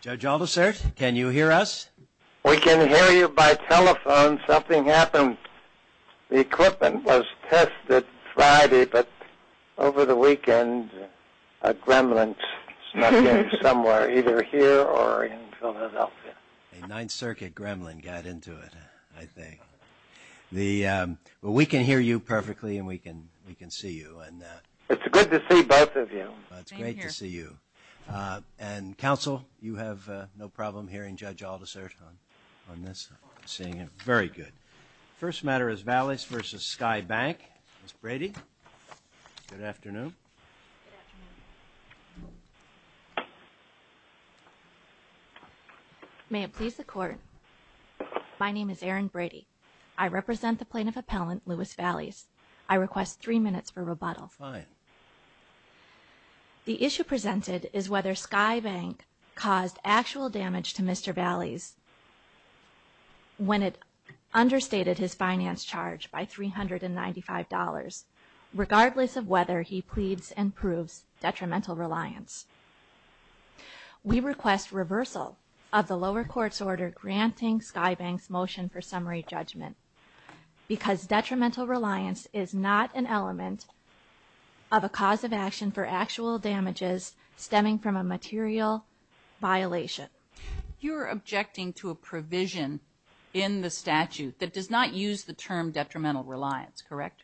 Judge Aldersert, can you hear us? We can hear you by telephone. Something happened. The equipment was tested Friday, but over the weekend a gremlin snuck in somewhere, either here or in Philadelphia. A Ninth Circuit gremlin got into it, I think. We can hear you perfectly and we can see you. It's good to see both of you. It's great to see you. Counsel, you have no problem hearing Judge Aldersert on this? Seeing it, very good. First matter is Valleys v. Sky Bank. Ms. Brady, good afternoon. May it please the Court, my name is Erin Brady. I represent the plaintiff appellant, Louis Valleys. I request three minutes for rebuttal. The issue presented is whether Sky Bank caused actual damage to Mr. Valleys when it understated his finance charge by $395, regardless of whether he pleads and proves detrimental reliance. We request reversal of the lower court's order granting Sky Bank's motion for summary judgment because detrimental reliance is not an element of a cause of action for actual damages stemming from a material violation. You are objecting to a provision in the statute that does not use the term detrimental reliance, correct?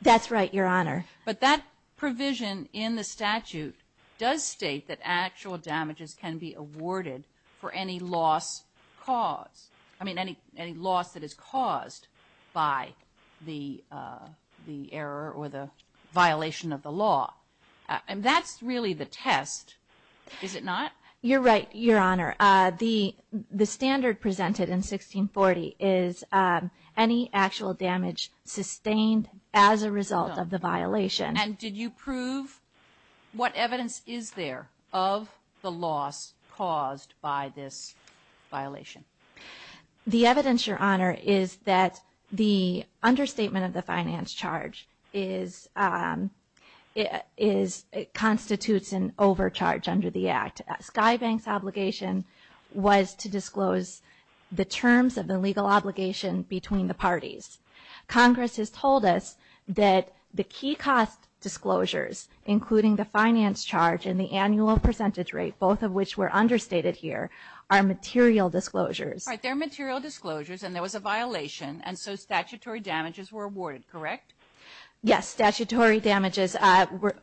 That's right, Your Honor. But that provision in the statute does state that actual damages can be awarded for any loss caused, I mean any loss that is caused by the error or the violation of the law. And that's really the test, is it not? You're right, Your Honor. The standard presented in 1640 is any actual damage sustained as a result of the violation. And did you prove what evidence is there of the loss caused by this violation? The evidence, Your Honor, is that the understatement of the finance charge constitutes an overcharge under the Act. Sky Bank's obligation was to disclose the terms of the legal obligation between the parties. Congress has told us that the key cost disclosures, including the finance charge and the annual percentage rate, both of which were understated here, are material disclosures. All right, they're material disclosures and there was a violation and so statutory damages were awarded, correct? Yes, statutory damages,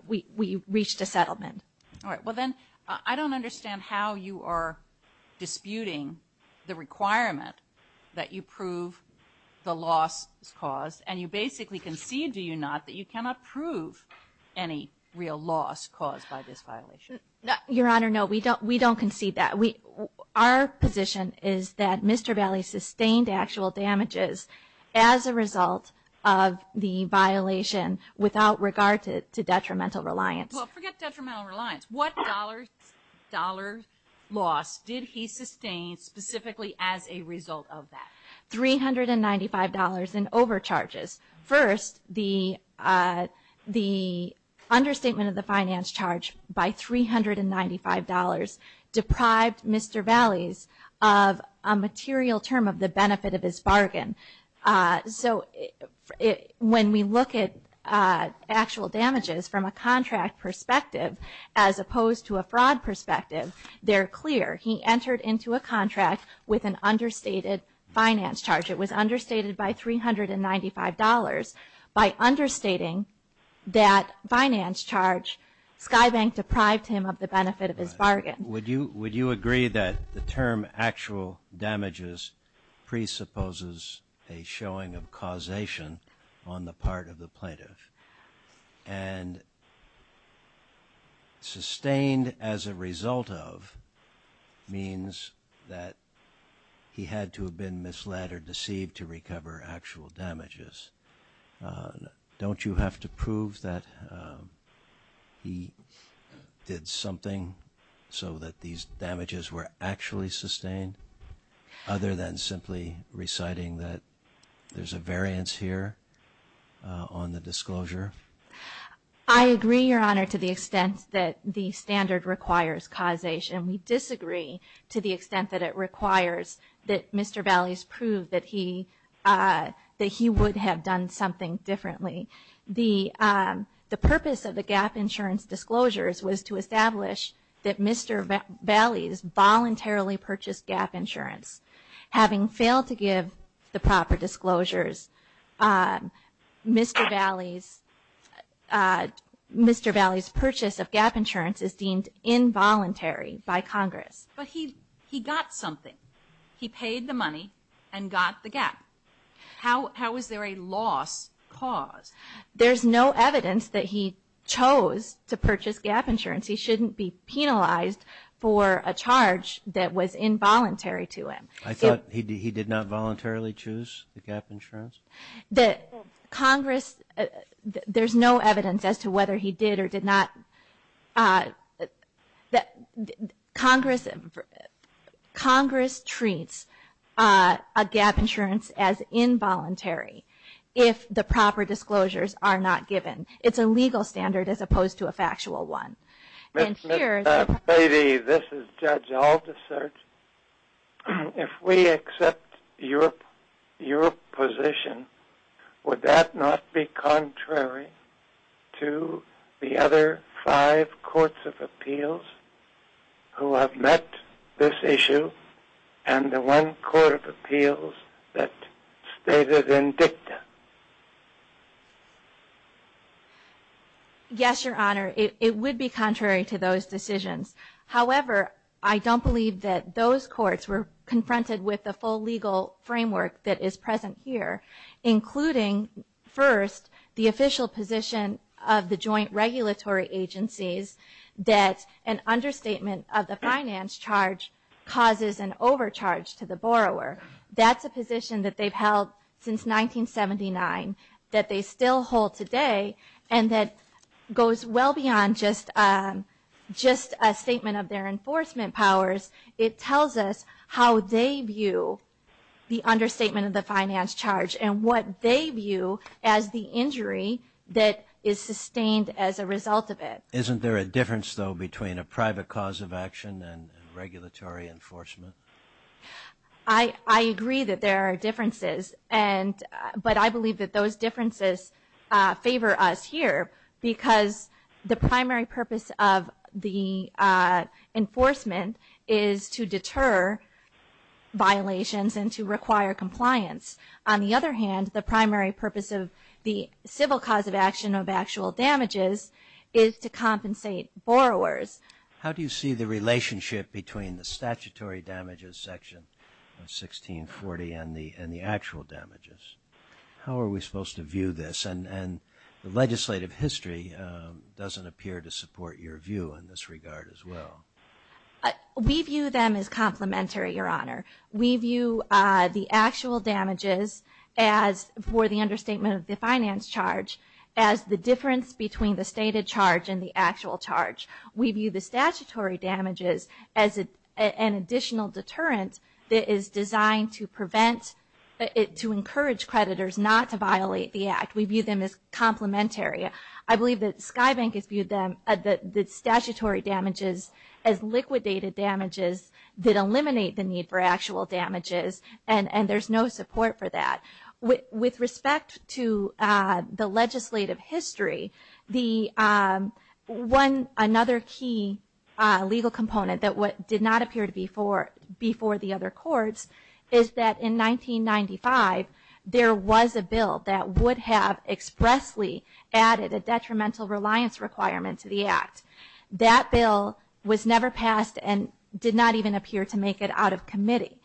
we reached a settlement. All right, well then I don't understand how you are disputing the requirement that you prove the loss caused and you basically concede, do you not, that you cannot prove any real loss caused by this violation. Your Honor, no, we don't concede that. Our position is that Mr. Bailey sustained actual damages as a result of the violation without regard to detrimental reliance. Well, forget detrimental reliance. What dollar loss did he sustain specifically as a result of that? $395 in overcharges. First, the understatement of the finance charge by $395 deprived Mr. Bailey of a material term of the benefit of his bargain. So when we look at actual damages from a contract perspective as opposed to a fraud perspective, they're clear. He entered into a contract with an understated finance charge. It was understated by $395. By understating that finance charge, Sky Bank deprived him of the benefit of his bargain. Would you agree that the term actual damages presupposes a showing of causation on the part of the plaintiff? And sustained as a result of means that he had to have been misled or deceived to recover actual damages. Don't you have to prove that he did something so that these damages were actually sustained other than simply reciting that there's a variance here on the disclosure? I agree, Your Honor, to the extent that the standard requires causation. We disagree to the extent that it requires that Mr. Bailey's prove that he would have done something differently. The purpose of the GAAP insurance disclosures was to establish that Mr. Bailey's voluntarily purchased GAAP insurance. Having failed to give the proper disclosures, Mr. Bailey's purchase of GAAP insurance is deemed involuntary by Congress. But he got something. He paid the money and got the GAAP. How is there a loss cause? There's no evidence that he chose to purchase GAAP insurance. He shouldn't be penalized for a charge that was involuntary to him. I thought he did not voluntarily choose the GAAP insurance? There's no evidence as to whether he did or did not. Congress treats a GAAP insurance as involuntary if the proper disclosures are not given. It's a legal standard as opposed to a factual one. Ms. Bailey, this is Judge Aldisert. If we accept your position, would that not be contrary to the other five courts of appeals who have met this issue and the one court of appeals that stated in DICTA? Yes, Your Honor. It would be contrary to those decisions. However, I don't believe that those courts were confronted with the full legal framework that is present here, including, first, the official position of the joint regulatory agencies that an understatement of the finance charge causes an overcharge to the borrower. That's a position that they've held since 1979 that they still hold today and that goes well beyond just a statement of their enforcement powers. It tells us how they view the understatement of the finance charge and what they view as the injury that is sustained as a result of it. Isn't there a difference, though, between a private cause of action and regulatory enforcement? I agree that there are differences, but I believe that those differences favor us here because the primary purpose of the enforcement is to deter violations and to require compliance. On the other hand, the primary purpose of the civil cause of action of actual damages is to compensate borrowers. How do you see the relationship between the statutory damages section of 1640 and the actual damages? How are we supposed to view this? And the legislative history doesn't appear to support your view in this regard as well. We view them as complementary, Your Honor. We view the actual damages for the understatement of the finance charge as the difference between the stated charge and the actual charge. We view the statutory damages as an additional deterrent that is designed to encourage creditors not to violate the act. We view them as complementary. I believe that Sky Bank has viewed the statutory damages as liquidated damages that eliminate the need for actual damages, and there's no support for that. With respect to the legislative history, another key legal component that did not appear before the other courts is that in 1995, there was a bill that would have expressly added a detrimental reliance requirement to the act. That bill was never passed and did not even appear to make it out of committee.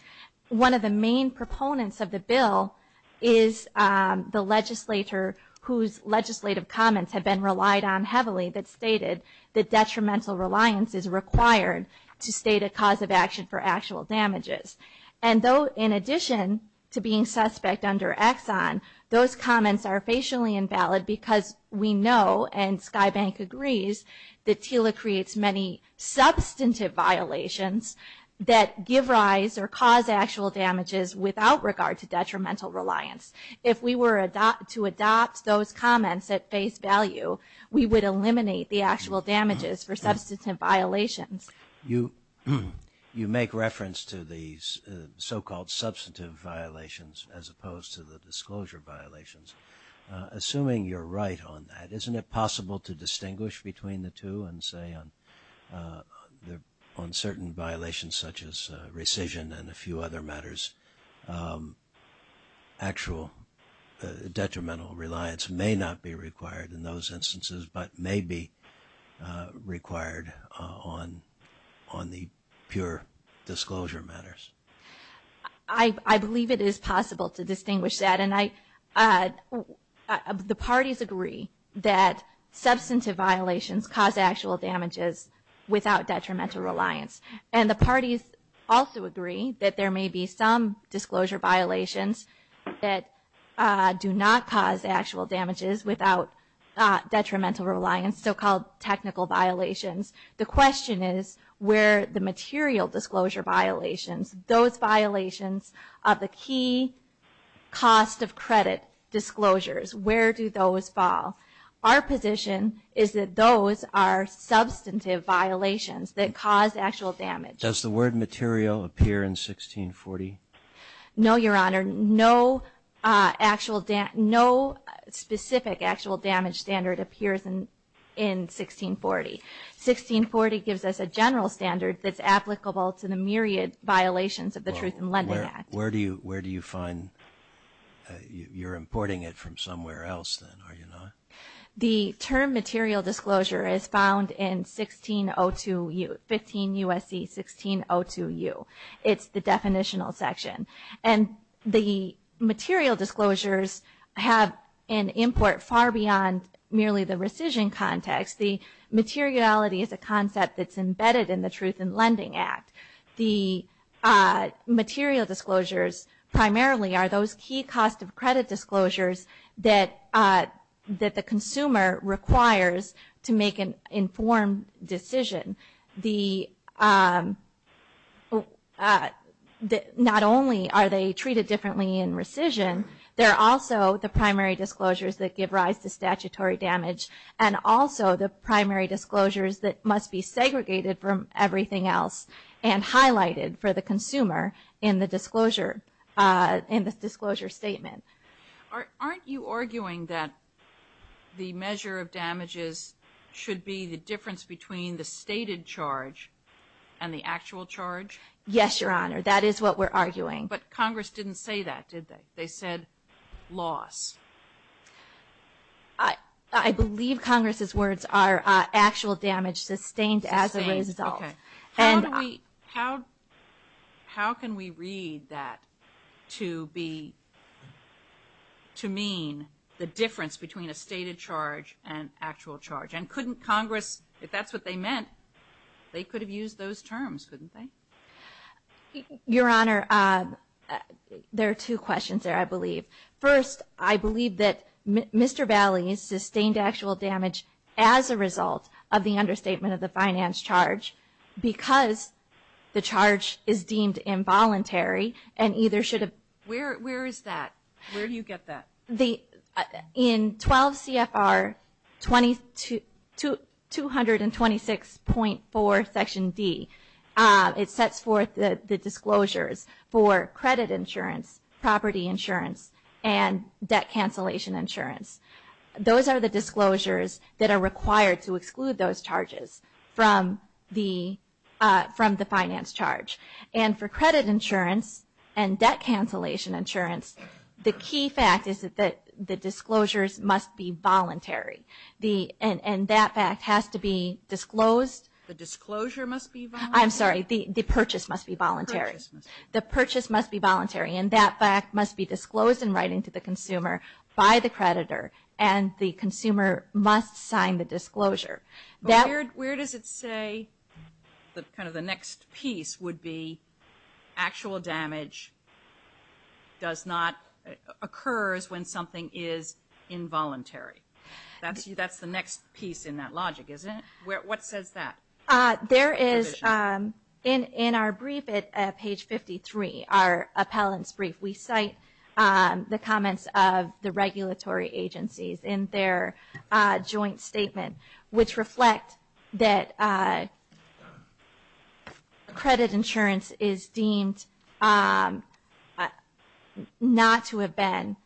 One of the main proponents of the bill is the legislator whose legislative comments have been relied on heavily that stated that detrimental reliance is required to state a cause of action for actual damages. And though in addition to being suspect under Exxon, those comments are facially invalid because we know, and Sky Bank agrees, that TILA creates many substantive violations that give rise or cause actual damages without regard to detrimental reliance. If we were to adopt those comments at face value, we would eliminate the actual damages for substantive violations. You make reference to these so-called substantive violations as opposed to the disclosure violations. Assuming you're right on that, isn't it possible to distinguish between the two and say on certain violations such as rescission and a few other matters, actual detrimental reliance may not be required in those instances but may be required on the pure disclosure matters? I believe it is possible to distinguish that. The parties agree that substantive violations cause actual damages without detrimental reliance. And the parties also agree that there may be some disclosure violations that do not cause actual damages without detrimental reliance, so-called technical violations. The question is where the material disclosure violations, those violations of the key cost of credit disclosures, where do those fall? Our position is that those are substantive violations that cause actual damage. Does the word material appear in 1640? No, Your Honor. No specific actual damage standard appears in 1640. 1640 gives us a general standard that's applicable to the myriad violations of the Truth in Lending Act. Where do you find, you're importing it from somewhere else then, are you not? The term material disclosure is found in 1602U, 15 U.S.C. 1602U. It's the definitional section. And the material disclosures have an import far beyond merely the rescission context. The materiality is a concept that's embedded in the Truth in Lending Act. The material disclosures primarily are those key cost of credit disclosures that the consumer requires to make an informed decision. Not only are they treated differently in rescission, they're also the primary disclosures that give rise to statutory damage and also the primary disclosures that must be segregated from everything else and highlighted for the consumer in the disclosure statement. Aren't you arguing that the measure of damages should be the difference between the stated charge and the actual charge? Yes, Your Honor. That is what we're arguing. But Congress didn't say that, did they? They said loss. I believe Congress's words are actual damage sustained as a result. How can we read that to mean the difference between a stated charge and actual charge? And couldn't Congress, if that's what they meant, they could have used those terms, couldn't they? Your Honor, there are two questions there, I believe. First, I believe that Mr. Valley sustained actual damage as a result of the understatement of the finance charge because the charge is deemed involuntary and either should have been. Where is that? Where do you get that? In 12 CFR 226.4 Section D, it sets forth the disclosures for credit insurance, property insurance, and debt cancellation insurance. Those are the disclosures that are required to exclude those charges from the finance charge. And for credit insurance and debt cancellation insurance, the key fact is that the disclosures must be voluntary. And that fact has to be disclosed. The disclosure must be voluntary? I'm sorry, the purchase must be voluntary. The purchase must be voluntary. And that fact must be disclosed in writing to the consumer by the creditor, and the consumer must sign the disclosure. Where does it say, kind of the next piece would be, actual damage does not occur when something is involuntary? That's the next piece in that logic, isn't it? What says that? There is, in our brief at page 53, our appellant's brief, we cite the comments of the regulatory agencies in their joint statement, which reflect that credit insurance is deemed not to have been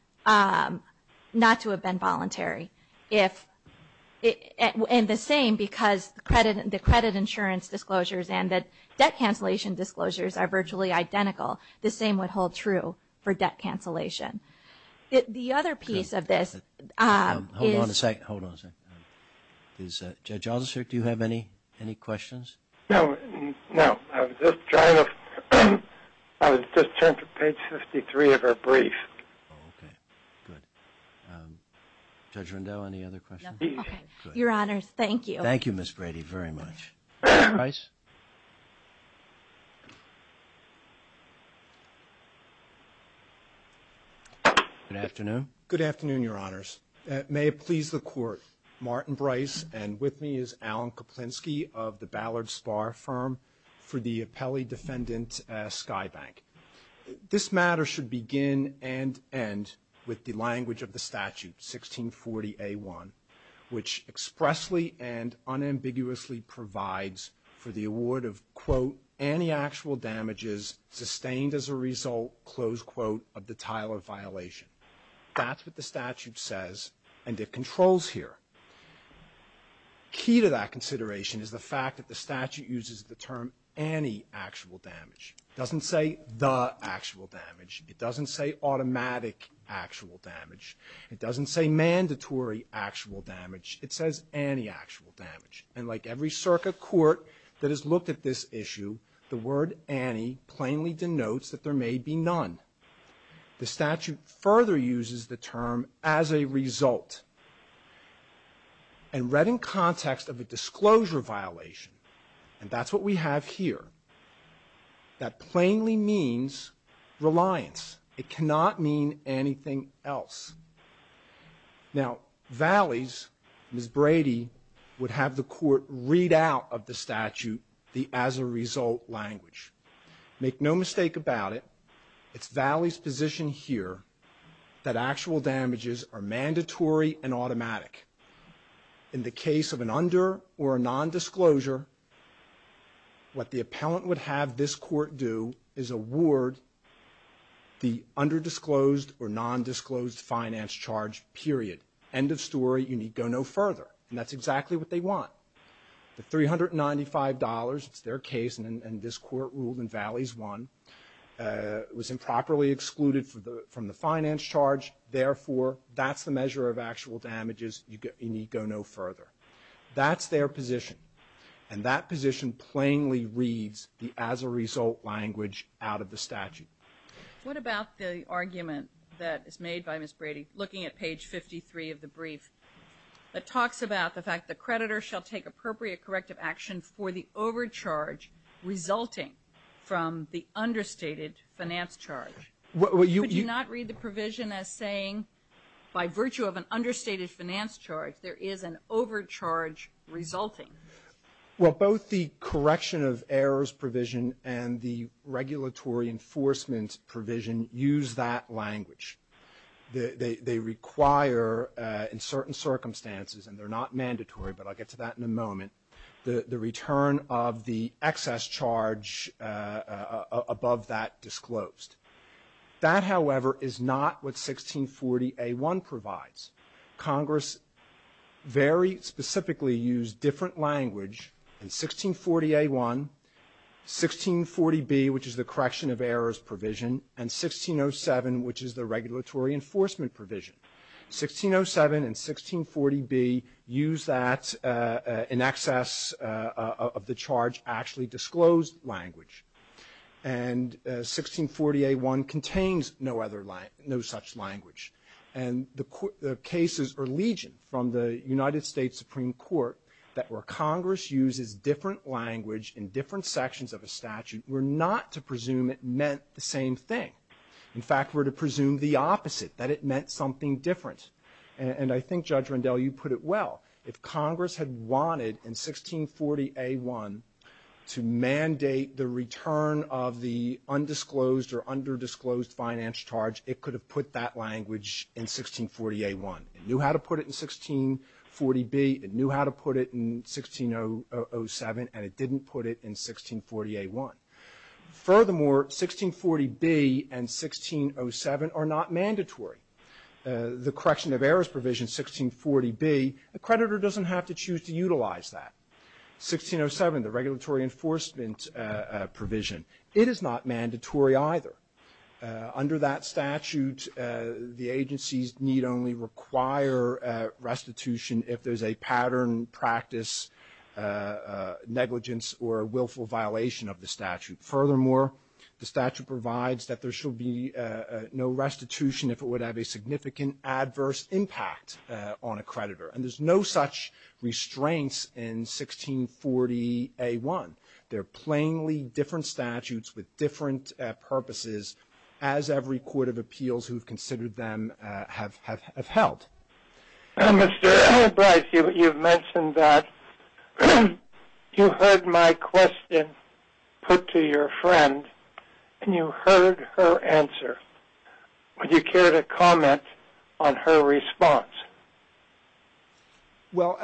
voluntary. And the same because the credit insurance disclosures and the debt cancellation disclosures are virtually identical. The same would hold true for debt cancellation. The other piece of this is – Hold on a second, hold on a second. Judge Aldister, do you have any questions? No, no. I was just trying to – I was just trying to page 53 of our brief. Okay, good. Judge Rundell, any other questions? No, okay. Your Honors, thank you. Thank you, Ms. Brady, very much. Mr. Brice? Good afternoon. Good afternoon, Your Honors. May it please the Court, Martin Brice, and with me is Alan Koplinsky of the Ballard Spar firm for the appellee defendant, Sky Bank. This matter should begin and end with the language of the statute, 1640A1, which expressly and unambiguously provides for the award of, quote, any actual damages sustained as a result, close quote, of the title of violation. That's what the statute says, and it controls here. Key to that consideration is the fact that the statute uses the term any actual damage. It doesn't say the actual damage. It doesn't say automatic actual damage. It doesn't say mandatory actual damage. It says any actual damage. And like every circuit court that has looked at this issue, the word any plainly denotes that there may be none. The statute further uses the term as a result. And read in context of a disclosure violation, and that's what we have here, that plainly means reliance. It cannot mean anything else. Now, Valleys, Ms. Brady would have the court read out of the statute the as a result language. Make no mistake about it, it's Valleys' position here that actual damages are mandatory and automatic. In the case of an under or a nondisclosure, what the appellant would have this court do is award the underdisclosed or nondisclosed finance charge, period. End of story. You need go no further. And that's exactly what they want. The $395, it's their case, and this court ruled in Valleys I, was improperly excluded from the finance charge. Therefore, that's the measure of actual damages. You need go no further. That's their position. And that position plainly reads the as a result language out of the statute. What about the argument that is made by Ms. Brady, looking at page 53 of the brief, that talks about the fact the creditor shall take appropriate corrective action for the overcharge resulting from the understated finance charge? Could you not read the provision as saying, by virtue of an understated finance charge, there is an overcharge resulting? Well, both the correction of errors provision and the regulatory enforcement provision use that language. They require in certain circumstances, and they're not mandatory, but I'll get to that in a moment, the return of the excess charge above that disclosed. That, however, is not what 1640A1 provides. Congress very specifically used different language in 1640A1, 1640B, which is the correction of errors provision, and 1607, which is the regulatory enforcement provision. 1607 and 1640B use that in excess of the charge actually disclosed language. And 1640A1 contains no other language, no such language. And the cases or legion from the United States Supreme Court that where Congress uses different language in different sections of a statute were not to presume it meant the same thing. In fact, were to presume the opposite, that it meant something different. And I think, Judge Rendell, you put it well. If Congress had wanted in 1640A1 to mandate the return of the undisclosed or underdisclosed finance charge, it could have put that language in 1640A1. It knew how to put it in 1640B, it knew how to put it in 1607, and it didn't put it in 1640A1. Furthermore, 1640B and 1607 are not mandatory. The correction of errors provision, 1640B, a creditor doesn't have to choose to utilize that. 1607, the regulatory enforcement provision, it is not mandatory either. Under that statute, the agencies need only require restitution if there's a pattern, practice, negligence, or willful violation of the statute. Furthermore, the statute provides that there shall be no restitution if it would have a significant adverse impact on a creditor. And there's no such restraints in 1640A1. They're plainly different statutes with different purposes as every court of appeals who have considered them have held. Mr. Albright, you've mentioned that you heard my question put to your friend and you heard her answer. Would you care to comment on her response? Well,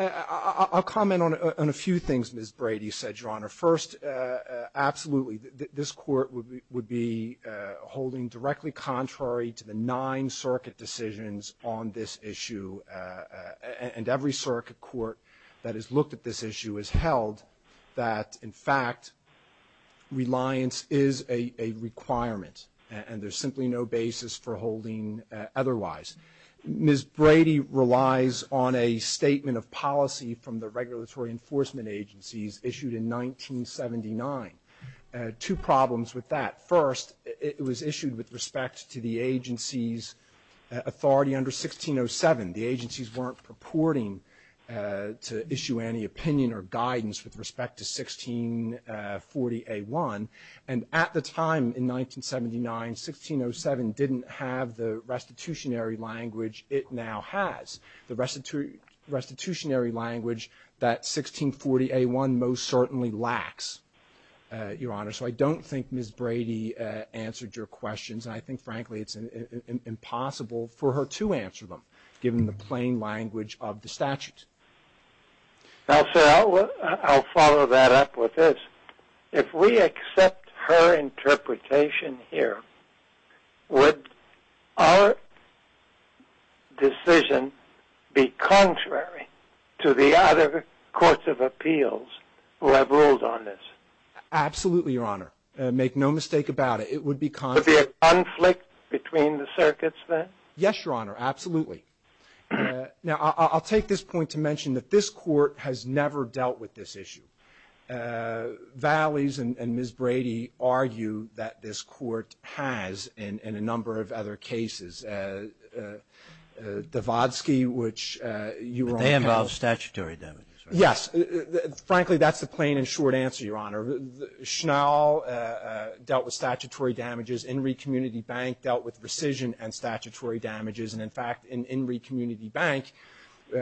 I'll comment on a few things Ms. Brady said, Your Honor. First, absolutely. This court would be holding directly contrary to the nine circuit decisions on this issue. And every circuit court that has looked at this issue has held that, in fact, reliance is a requirement and there's simply no basis for holding otherwise. Ms. Brady relies on a statement of policy from the regulatory enforcement agencies issued in 1979. Two problems with that. First, it was issued with respect to the agency's authority under 1607. The agencies weren't purporting to issue any opinion or guidance with respect to 1640A1. And at the time in 1979, 1607 didn't have the restitutionary language it now has, the restitutionary language that 1640A1 most certainly lacks, Your Honor. So I don't think Ms. Brady answered your questions. And I think, frankly, it's impossible for her to answer them, given the plain language of the statute. Now, sir, I'll follow that up with this. If we accept her interpretation here, would our decision be contrary to the other courts of appeals who have ruled on this? Absolutely, Your Honor. Make no mistake about it. It would be contrary. Would there be a conflict between the circuits then? Yes, Your Honor. Absolutely. Now, I'll take this point to mention that this court has never dealt with this issue. Valleys and Ms. Brady argue that this court has in a number of other cases. Dvodsky, which you were on panel. But they involve statutory damages, right? Yes. Frankly, that's the plain and short answer, Your Honor. Schnell dealt with statutory damages. Enry Community Bank dealt with rescission and statutory damages. And, in fact, in Enry Community Bank,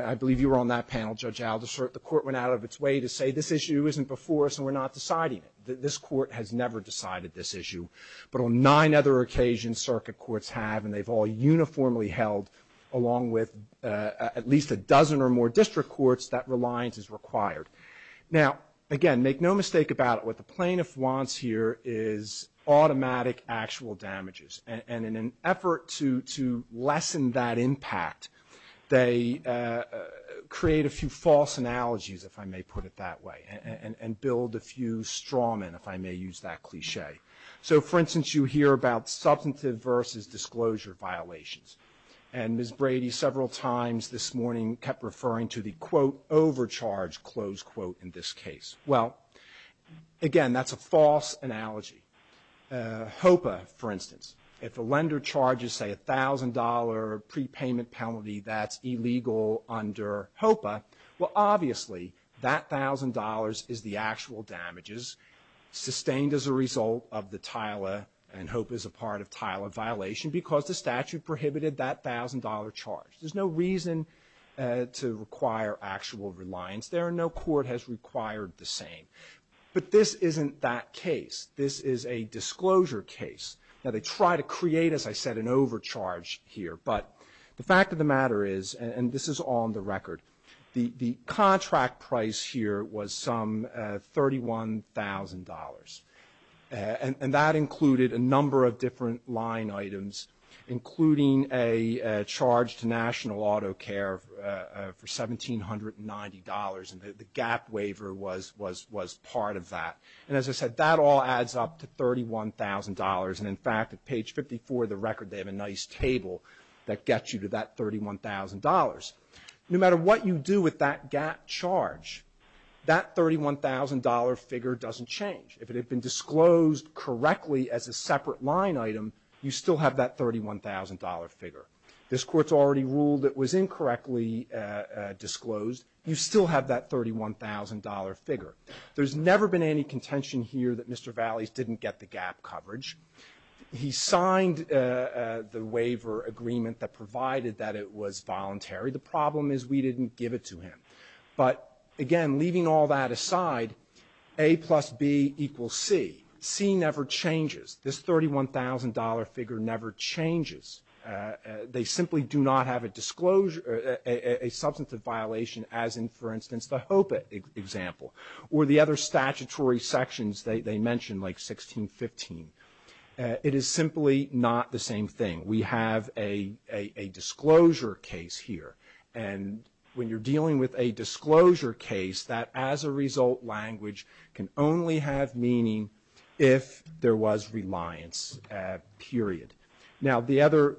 I believe you were on that panel, Judge Aldershot, the court went out of its way to say this issue isn't before us and we're not deciding it. This court has never decided this issue. But on nine other occasions, circuit courts have, and they've all uniformly held, along with at least a dozen or more district courts, that reliance is required. Now, again, make no mistake about it. What the plaintiff wants here is automatic actual damages. And in an effort to lessen that impact, they create a few false analogies, if I may put it that way, and build a few straw men, if I may use that cliche. So, for instance, you hear about substantive versus disclosure violations. And Ms. Brady several times this morning kept referring to the, quote, overcharge, close quote, in this case. Well, again, that's a false analogy. HOPA, for instance, if a lender charges, say, a $1,000 prepayment penalty that's illegal under HOPA, well, obviously, that $1,000 is the actual damages sustained as a result of the TILA and HOPA is a part of TILA violation because the statute prohibited that $1,000 charge. There's no reason to require actual reliance. There are no court has required the same. But this isn't that case. This is a disclosure case. Now, they try to create, as I said, an overcharge here. But the fact of the matter is, and this is on the record, the contract price here was some $31,000. And that included a number of different line items, including a charge to National Auto Care for $1,790. And the GAAP waiver was part of that. And as I said, that all adds up to $31,000. And, in fact, at page 54 of the record, they have a nice table that gets you to that $31,000. No matter what you do with that GAAP charge, that $31,000 figure doesn't change. If it had been disclosed correctly as a separate line item, you still have that $31,000 figure. This Court's already ruled it was incorrectly disclosed. You still have that $31,000 figure. There's never been any contention here that Mr. Vales didn't get the GAAP coverage. He signed the waiver agreement that provided that it was voluntary. The problem is we didn't give it to him. But, again, leaving all that aside, A plus B equals C. C never changes. This $31,000 figure never changes. They simply do not have a substantive violation, as in, for instance, the HOPA example, or the other statutory sections they mentioned, like 1615. It is simply not the same thing. We have a disclosure case here. And when you're dealing with a disclosure case, that, as a result, language can only have meaning if there was reliance, period. Now, the other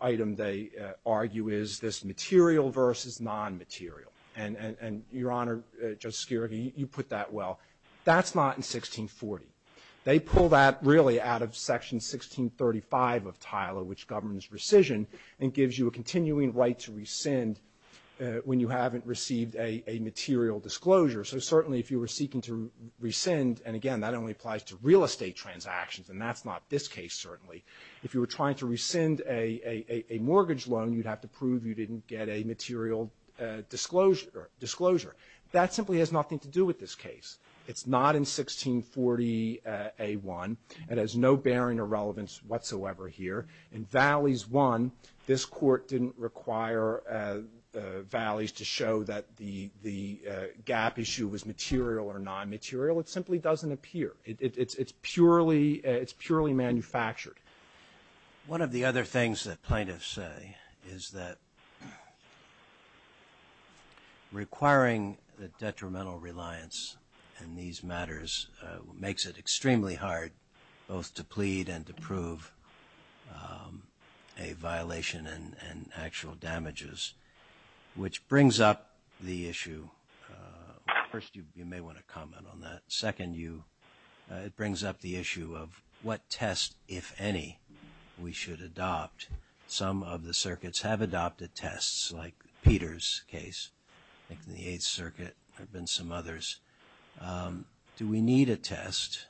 item they argue is this material versus nonmaterial. And, Your Honor, Justice Skerogy, you put that well. That's not in 1640. They pull that, really, out of Section 1635 of TILA, which governs rescission and gives you a continuing right to rescind when you haven't received a material disclosure. So, certainly, if you were seeking to rescind, and, again, that only applies to real case, certainly, if you were trying to rescind a mortgage loan, you'd have to prove you didn't get a material disclosure. That simply has nothing to do with this case. It's not in 1640A1. It has no bearing or relevance whatsoever here. In Valleys 1, this Court didn't require Valleys to show that the gap issue was material or nonmaterial. It simply doesn't appear. It's purely manufactured. One of the other things that plaintiffs say is that requiring the detrimental reliance in these matters makes it extremely hard both to plead and to prove a violation and actual damages, which brings up the issue. First, you may want to comment on that. Second, it brings up the issue of what test, if any, we should adopt. Some of the circuits have adopted tests, like Peter's case. I think in the Eighth Circuit there have been some others. Do we need a test?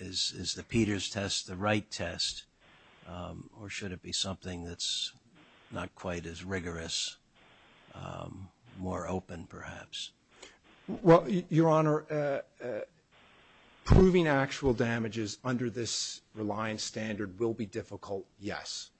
Is the Peter's test the right test, or should it be something that's not quite as rigorous, more open, perhaps? Well, Your Honor, proving actual damages under this reliance standard will be difficult, yes.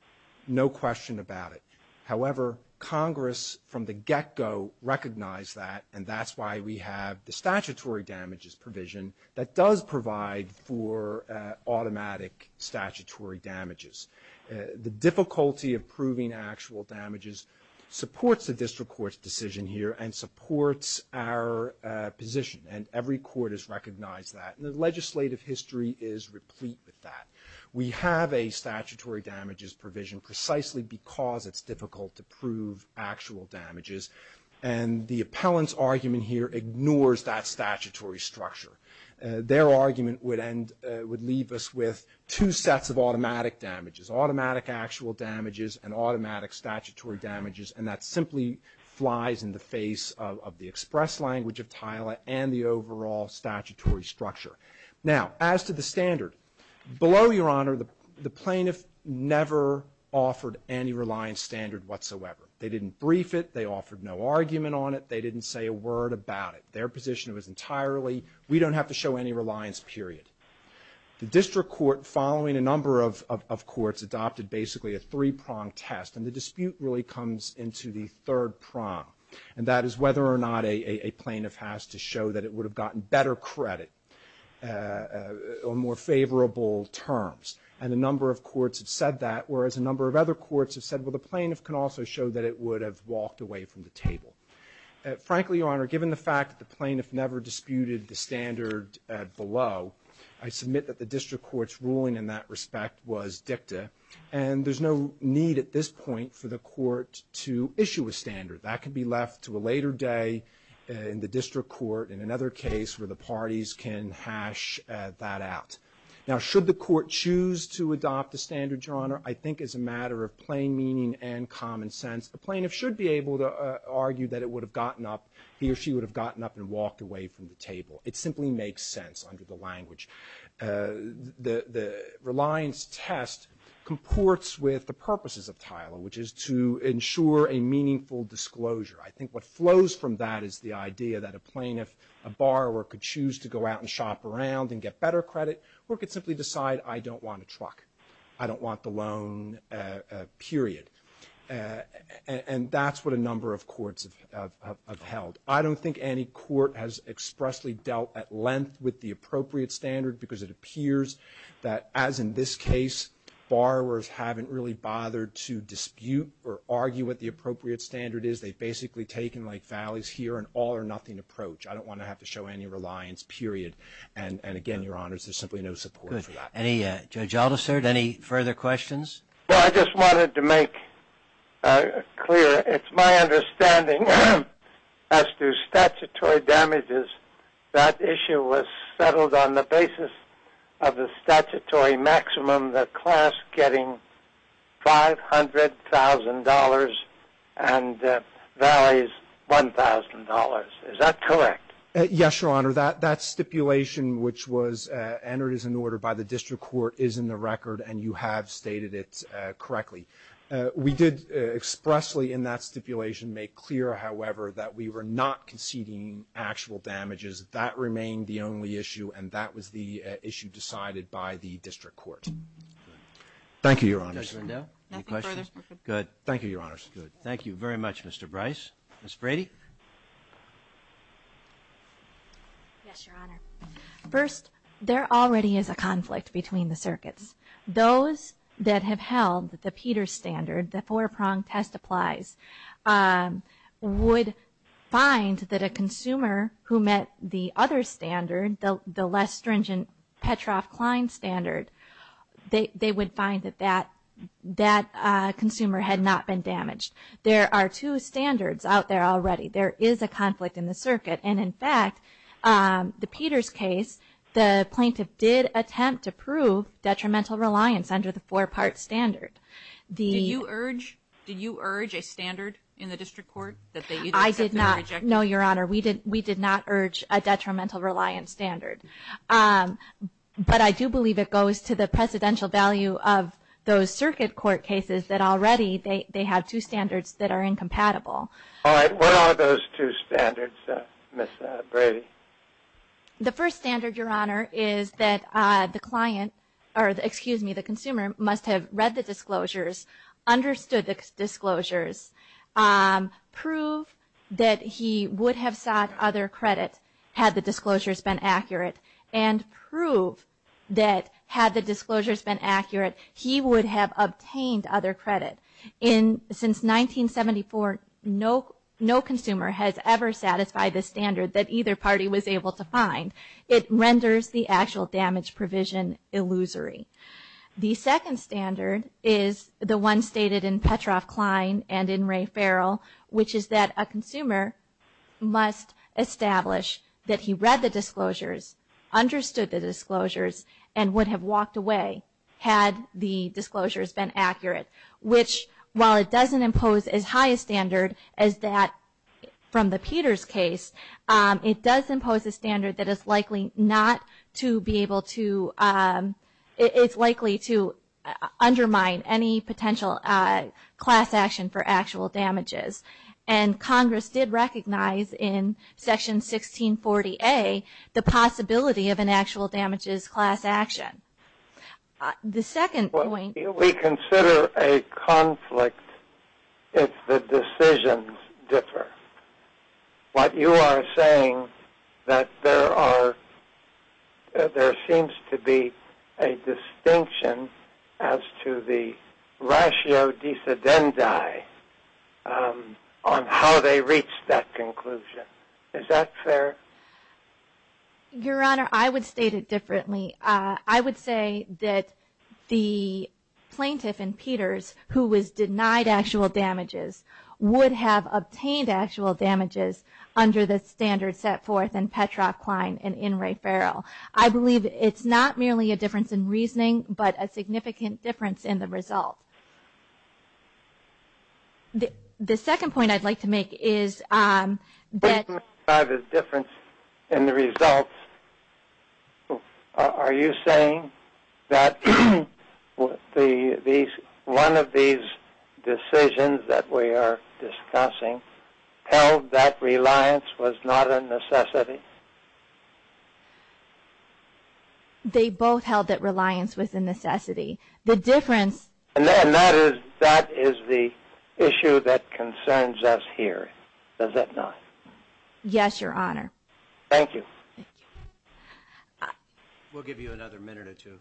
No question about it. However, Congress from the get-go recognized that, and that's why we have the statutory damages provision that does provide for automatic statutory damages. The difficulty of proving actual damages supports the district court's decision here and supports our position, and every court has recognized that, and the legislative history is replete with that. We have a statutory damages provision precisely because it's difficult to prove actual damages, and the appellant's argument here ignores that statutory structure. Their argument would leave us with two sets of automatic damages, automatic actual damages, and automatic statutory damages, and that simply flies in the face of the express language of TILA and the overall statutory structure. Now, as to the standard, below, Your Honor, the plaintiff never offered any reliance standard whatsoever. They didn't brief it. They offered no argument on it. They didn't say a word about it. Their position was entirely, we don't have to show any reliance, period. The district court, following a number of courts, adopted basically a three-prong test, and the dispute really comes into the third prong, and that is whether or not a plaintiff has to show that it would have gotten better credit or more favorable terms, and a number of courts have said that, whereas a number of other courts have said, well, the plaintiff can also show that it would have walked away from the table. Frankly, Your Honor, given the fact that the plaintiff never disputed the standard below, I submit that the district court's ruling in that respect was dicta, and there's no need at this point for the court to issue a standard. That could be left to a later day in the district court in another case where the parties can hash that out. Now, should the court choose to adopt a standard, Your Honor, I think is a matter of plain meaning and common sense. A plaintiff should be able to argue that it would have gotten up, he or she would have gotten up and walked away from the table. It simply makes sense under the language. The reliance test comports with the purposes of TILA, which is to ensure a meaningful disclosure. I think what flows from that is the idea that a plaintiff, a borrower, could choose to go out and shop around and get better credit or could simply decide, I don't want a truck. I don't want the loan, period. And that's what a number of courts have held. I don't think any court has expressly dealt at length with the appropriate standard because it appears that, as in this case, borrowers haven't really bothered to dispute or argue what the appropriate standard is. They've basically taken like valleys here, an all or nothing approach. I don't want to have to show any reliance, period. And again, Your Honors, there's simply no support for that. Good. Any, Judge Aldister, any further questions? Well, I just wanted to make clear, it's my understanding as to statutory damages, that issue was settled on the basis of the statutory maximum, the class getting $500,000 and valleys $1,000. Is that correct? Yes, Your Honor. That stipulation which was entered as an order by the district court is in the statute correctly. We did expressly in that stipulation make clear, however, that we were not conceding actual damages. That remained the only issue and that was the issue decided by the district court. Thank you, Your Honors. Judge Rendeau, any questions? Nothing further. Good. Thank you, Your Honors. Good. Thank you very much, Mr. Bryce. Ms. Brady? Yes, Your Honor. First, there already is a conflict between the circuits. Those that have held the Peters standard, the four-prong test applies, would find that a consumer who met the other standard, the less stringent Petroff-Klein standard, they would find that that consumer had not been damaged. There are two standards out there already. There is a conflict in the circuit. And, in fact, the Peters case, the plaintiff did attempt to prove detrimental reliance under the four-part standard. Did you urge a standard in the district court? I did not. No, Your Honor. We did not urge a detrimental reliance standard. But I do believe it goes to the presidential value of those circuit court All right. What are those two standards, Ms. Brady? The first standard, Your Honor, is that the consumer must have read the disclosures, understood the disclosures, proved that he would have sought other credit had the disclosures been accurate, and proved that had the disclosures been accurate, he would have obtained other credit. Since 1974, no consumer has ever satisfied the standard that either party was able to find. It renders the actual damage provision illusory. The second standard is the one stated in Petroff-Klein and in Ray Farrell, which is that a consumer must establish that he read the disclosures, understood the disclosures, and would have walked away had the disclosures been accurate, which, while it doesn't impose as high a standard as that from the Peters case, it does impose a standard that is likely not to be able to, it's likely to undermine any potential class action for actual damages. And Congress did recognize in Section 1640A the possibility of an actual damages class action. The second point. We consider a conflict if the decisions differ. What you are saying that there are, there seems to be a distinction as to the ratio dissidenti on how they reach that conclusion. Is that fair? Your Honor, I would state it differently. I would say that the plaintiff in Peters, who was denied actual damages, would have obtained actual damages under the standard set forth in Petroff-Klein and in Ray Farrell. I believe it's not merely a difference in reasoning, but a significant difference in the result. The second point I'd like to make is that. By the difference in the results, are you saying that one of these decisions that we are discussing held that reliance was not a necessity? They both held that reliance was a necessity. The difference. And that is the issue that concerns us here. Does that not? Yes, Your Honor. Thank you. We'll give you another minute or two.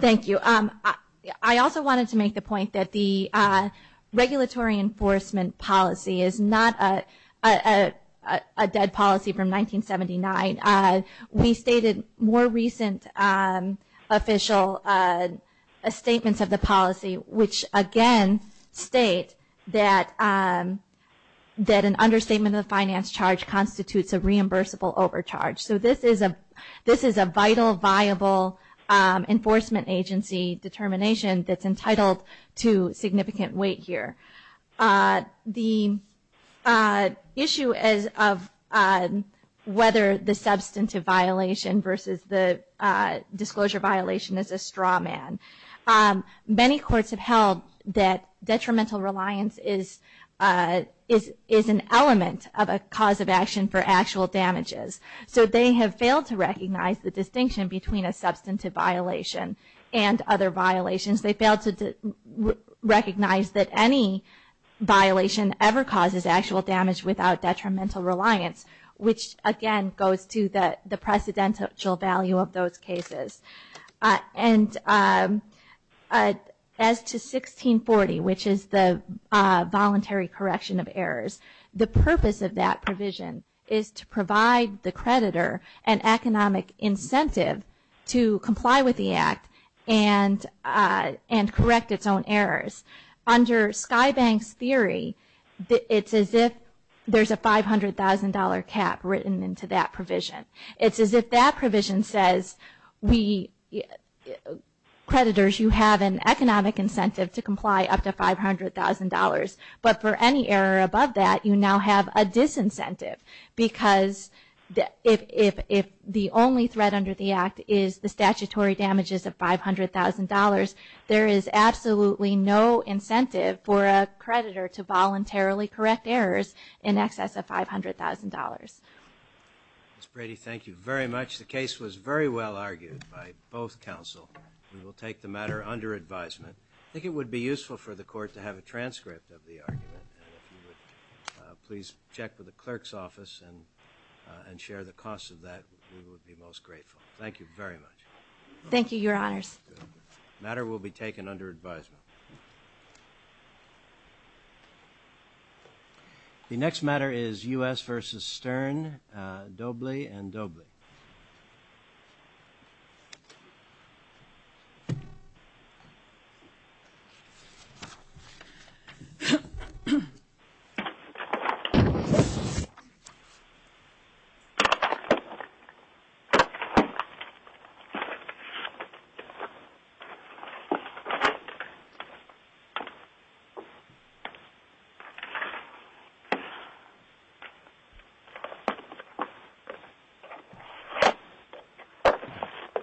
Thank you. I also wanted to make the point that the regulatory enforcement policy is not a dead policy from 1979. We stated more recent official statements of the policy, which again state that an understatement of the finance charge constitutes a reimbursable overcharge. So this is a vital, viable enforcement agency determination that's entitled to significant weight here. The issue of whether the substantive violation versus the disclosure violation is a straw man. Many courts have held that detrimental reliance is an element of a cause of action for actual damages. So they have failed to recognize the distinction between a substantive violation and other violations. They failed to recognize that any violation ever causes actual damage without detrimental reliance, which again goes to the precedential value of those cases. And as to 1640, which is the voluntary correction of errors, the purpose of that provision is to provide the creditor an economic incentive to comply with the act and correct its own errors. Under Sky Bank's theory, it's as if there's a $500,000 cap written into that provision. It's as if that provision says, creditors, you have an economic incentive to comply up to $500,000, but for any error above that, you now have a disincentive. Because if the only threat under the act is the statutory damages of $500,000, there is absolutely no incentive for a creditor to voluntarily correct errors in excess of $500,000. Ms. Brady, thank you very much. The case was very well argued by both counsel. We will take the matter under advisement. I think it would be useful for the court to have a transcript of the argument. Please check with the clerk's office and share the cost of that. We would be most grateful. Thank you very much. Thank you, Your Honors. The matter will be taken under advisement. The next matter is U.S. v. Stern, Dobley and Dobley. Thank you.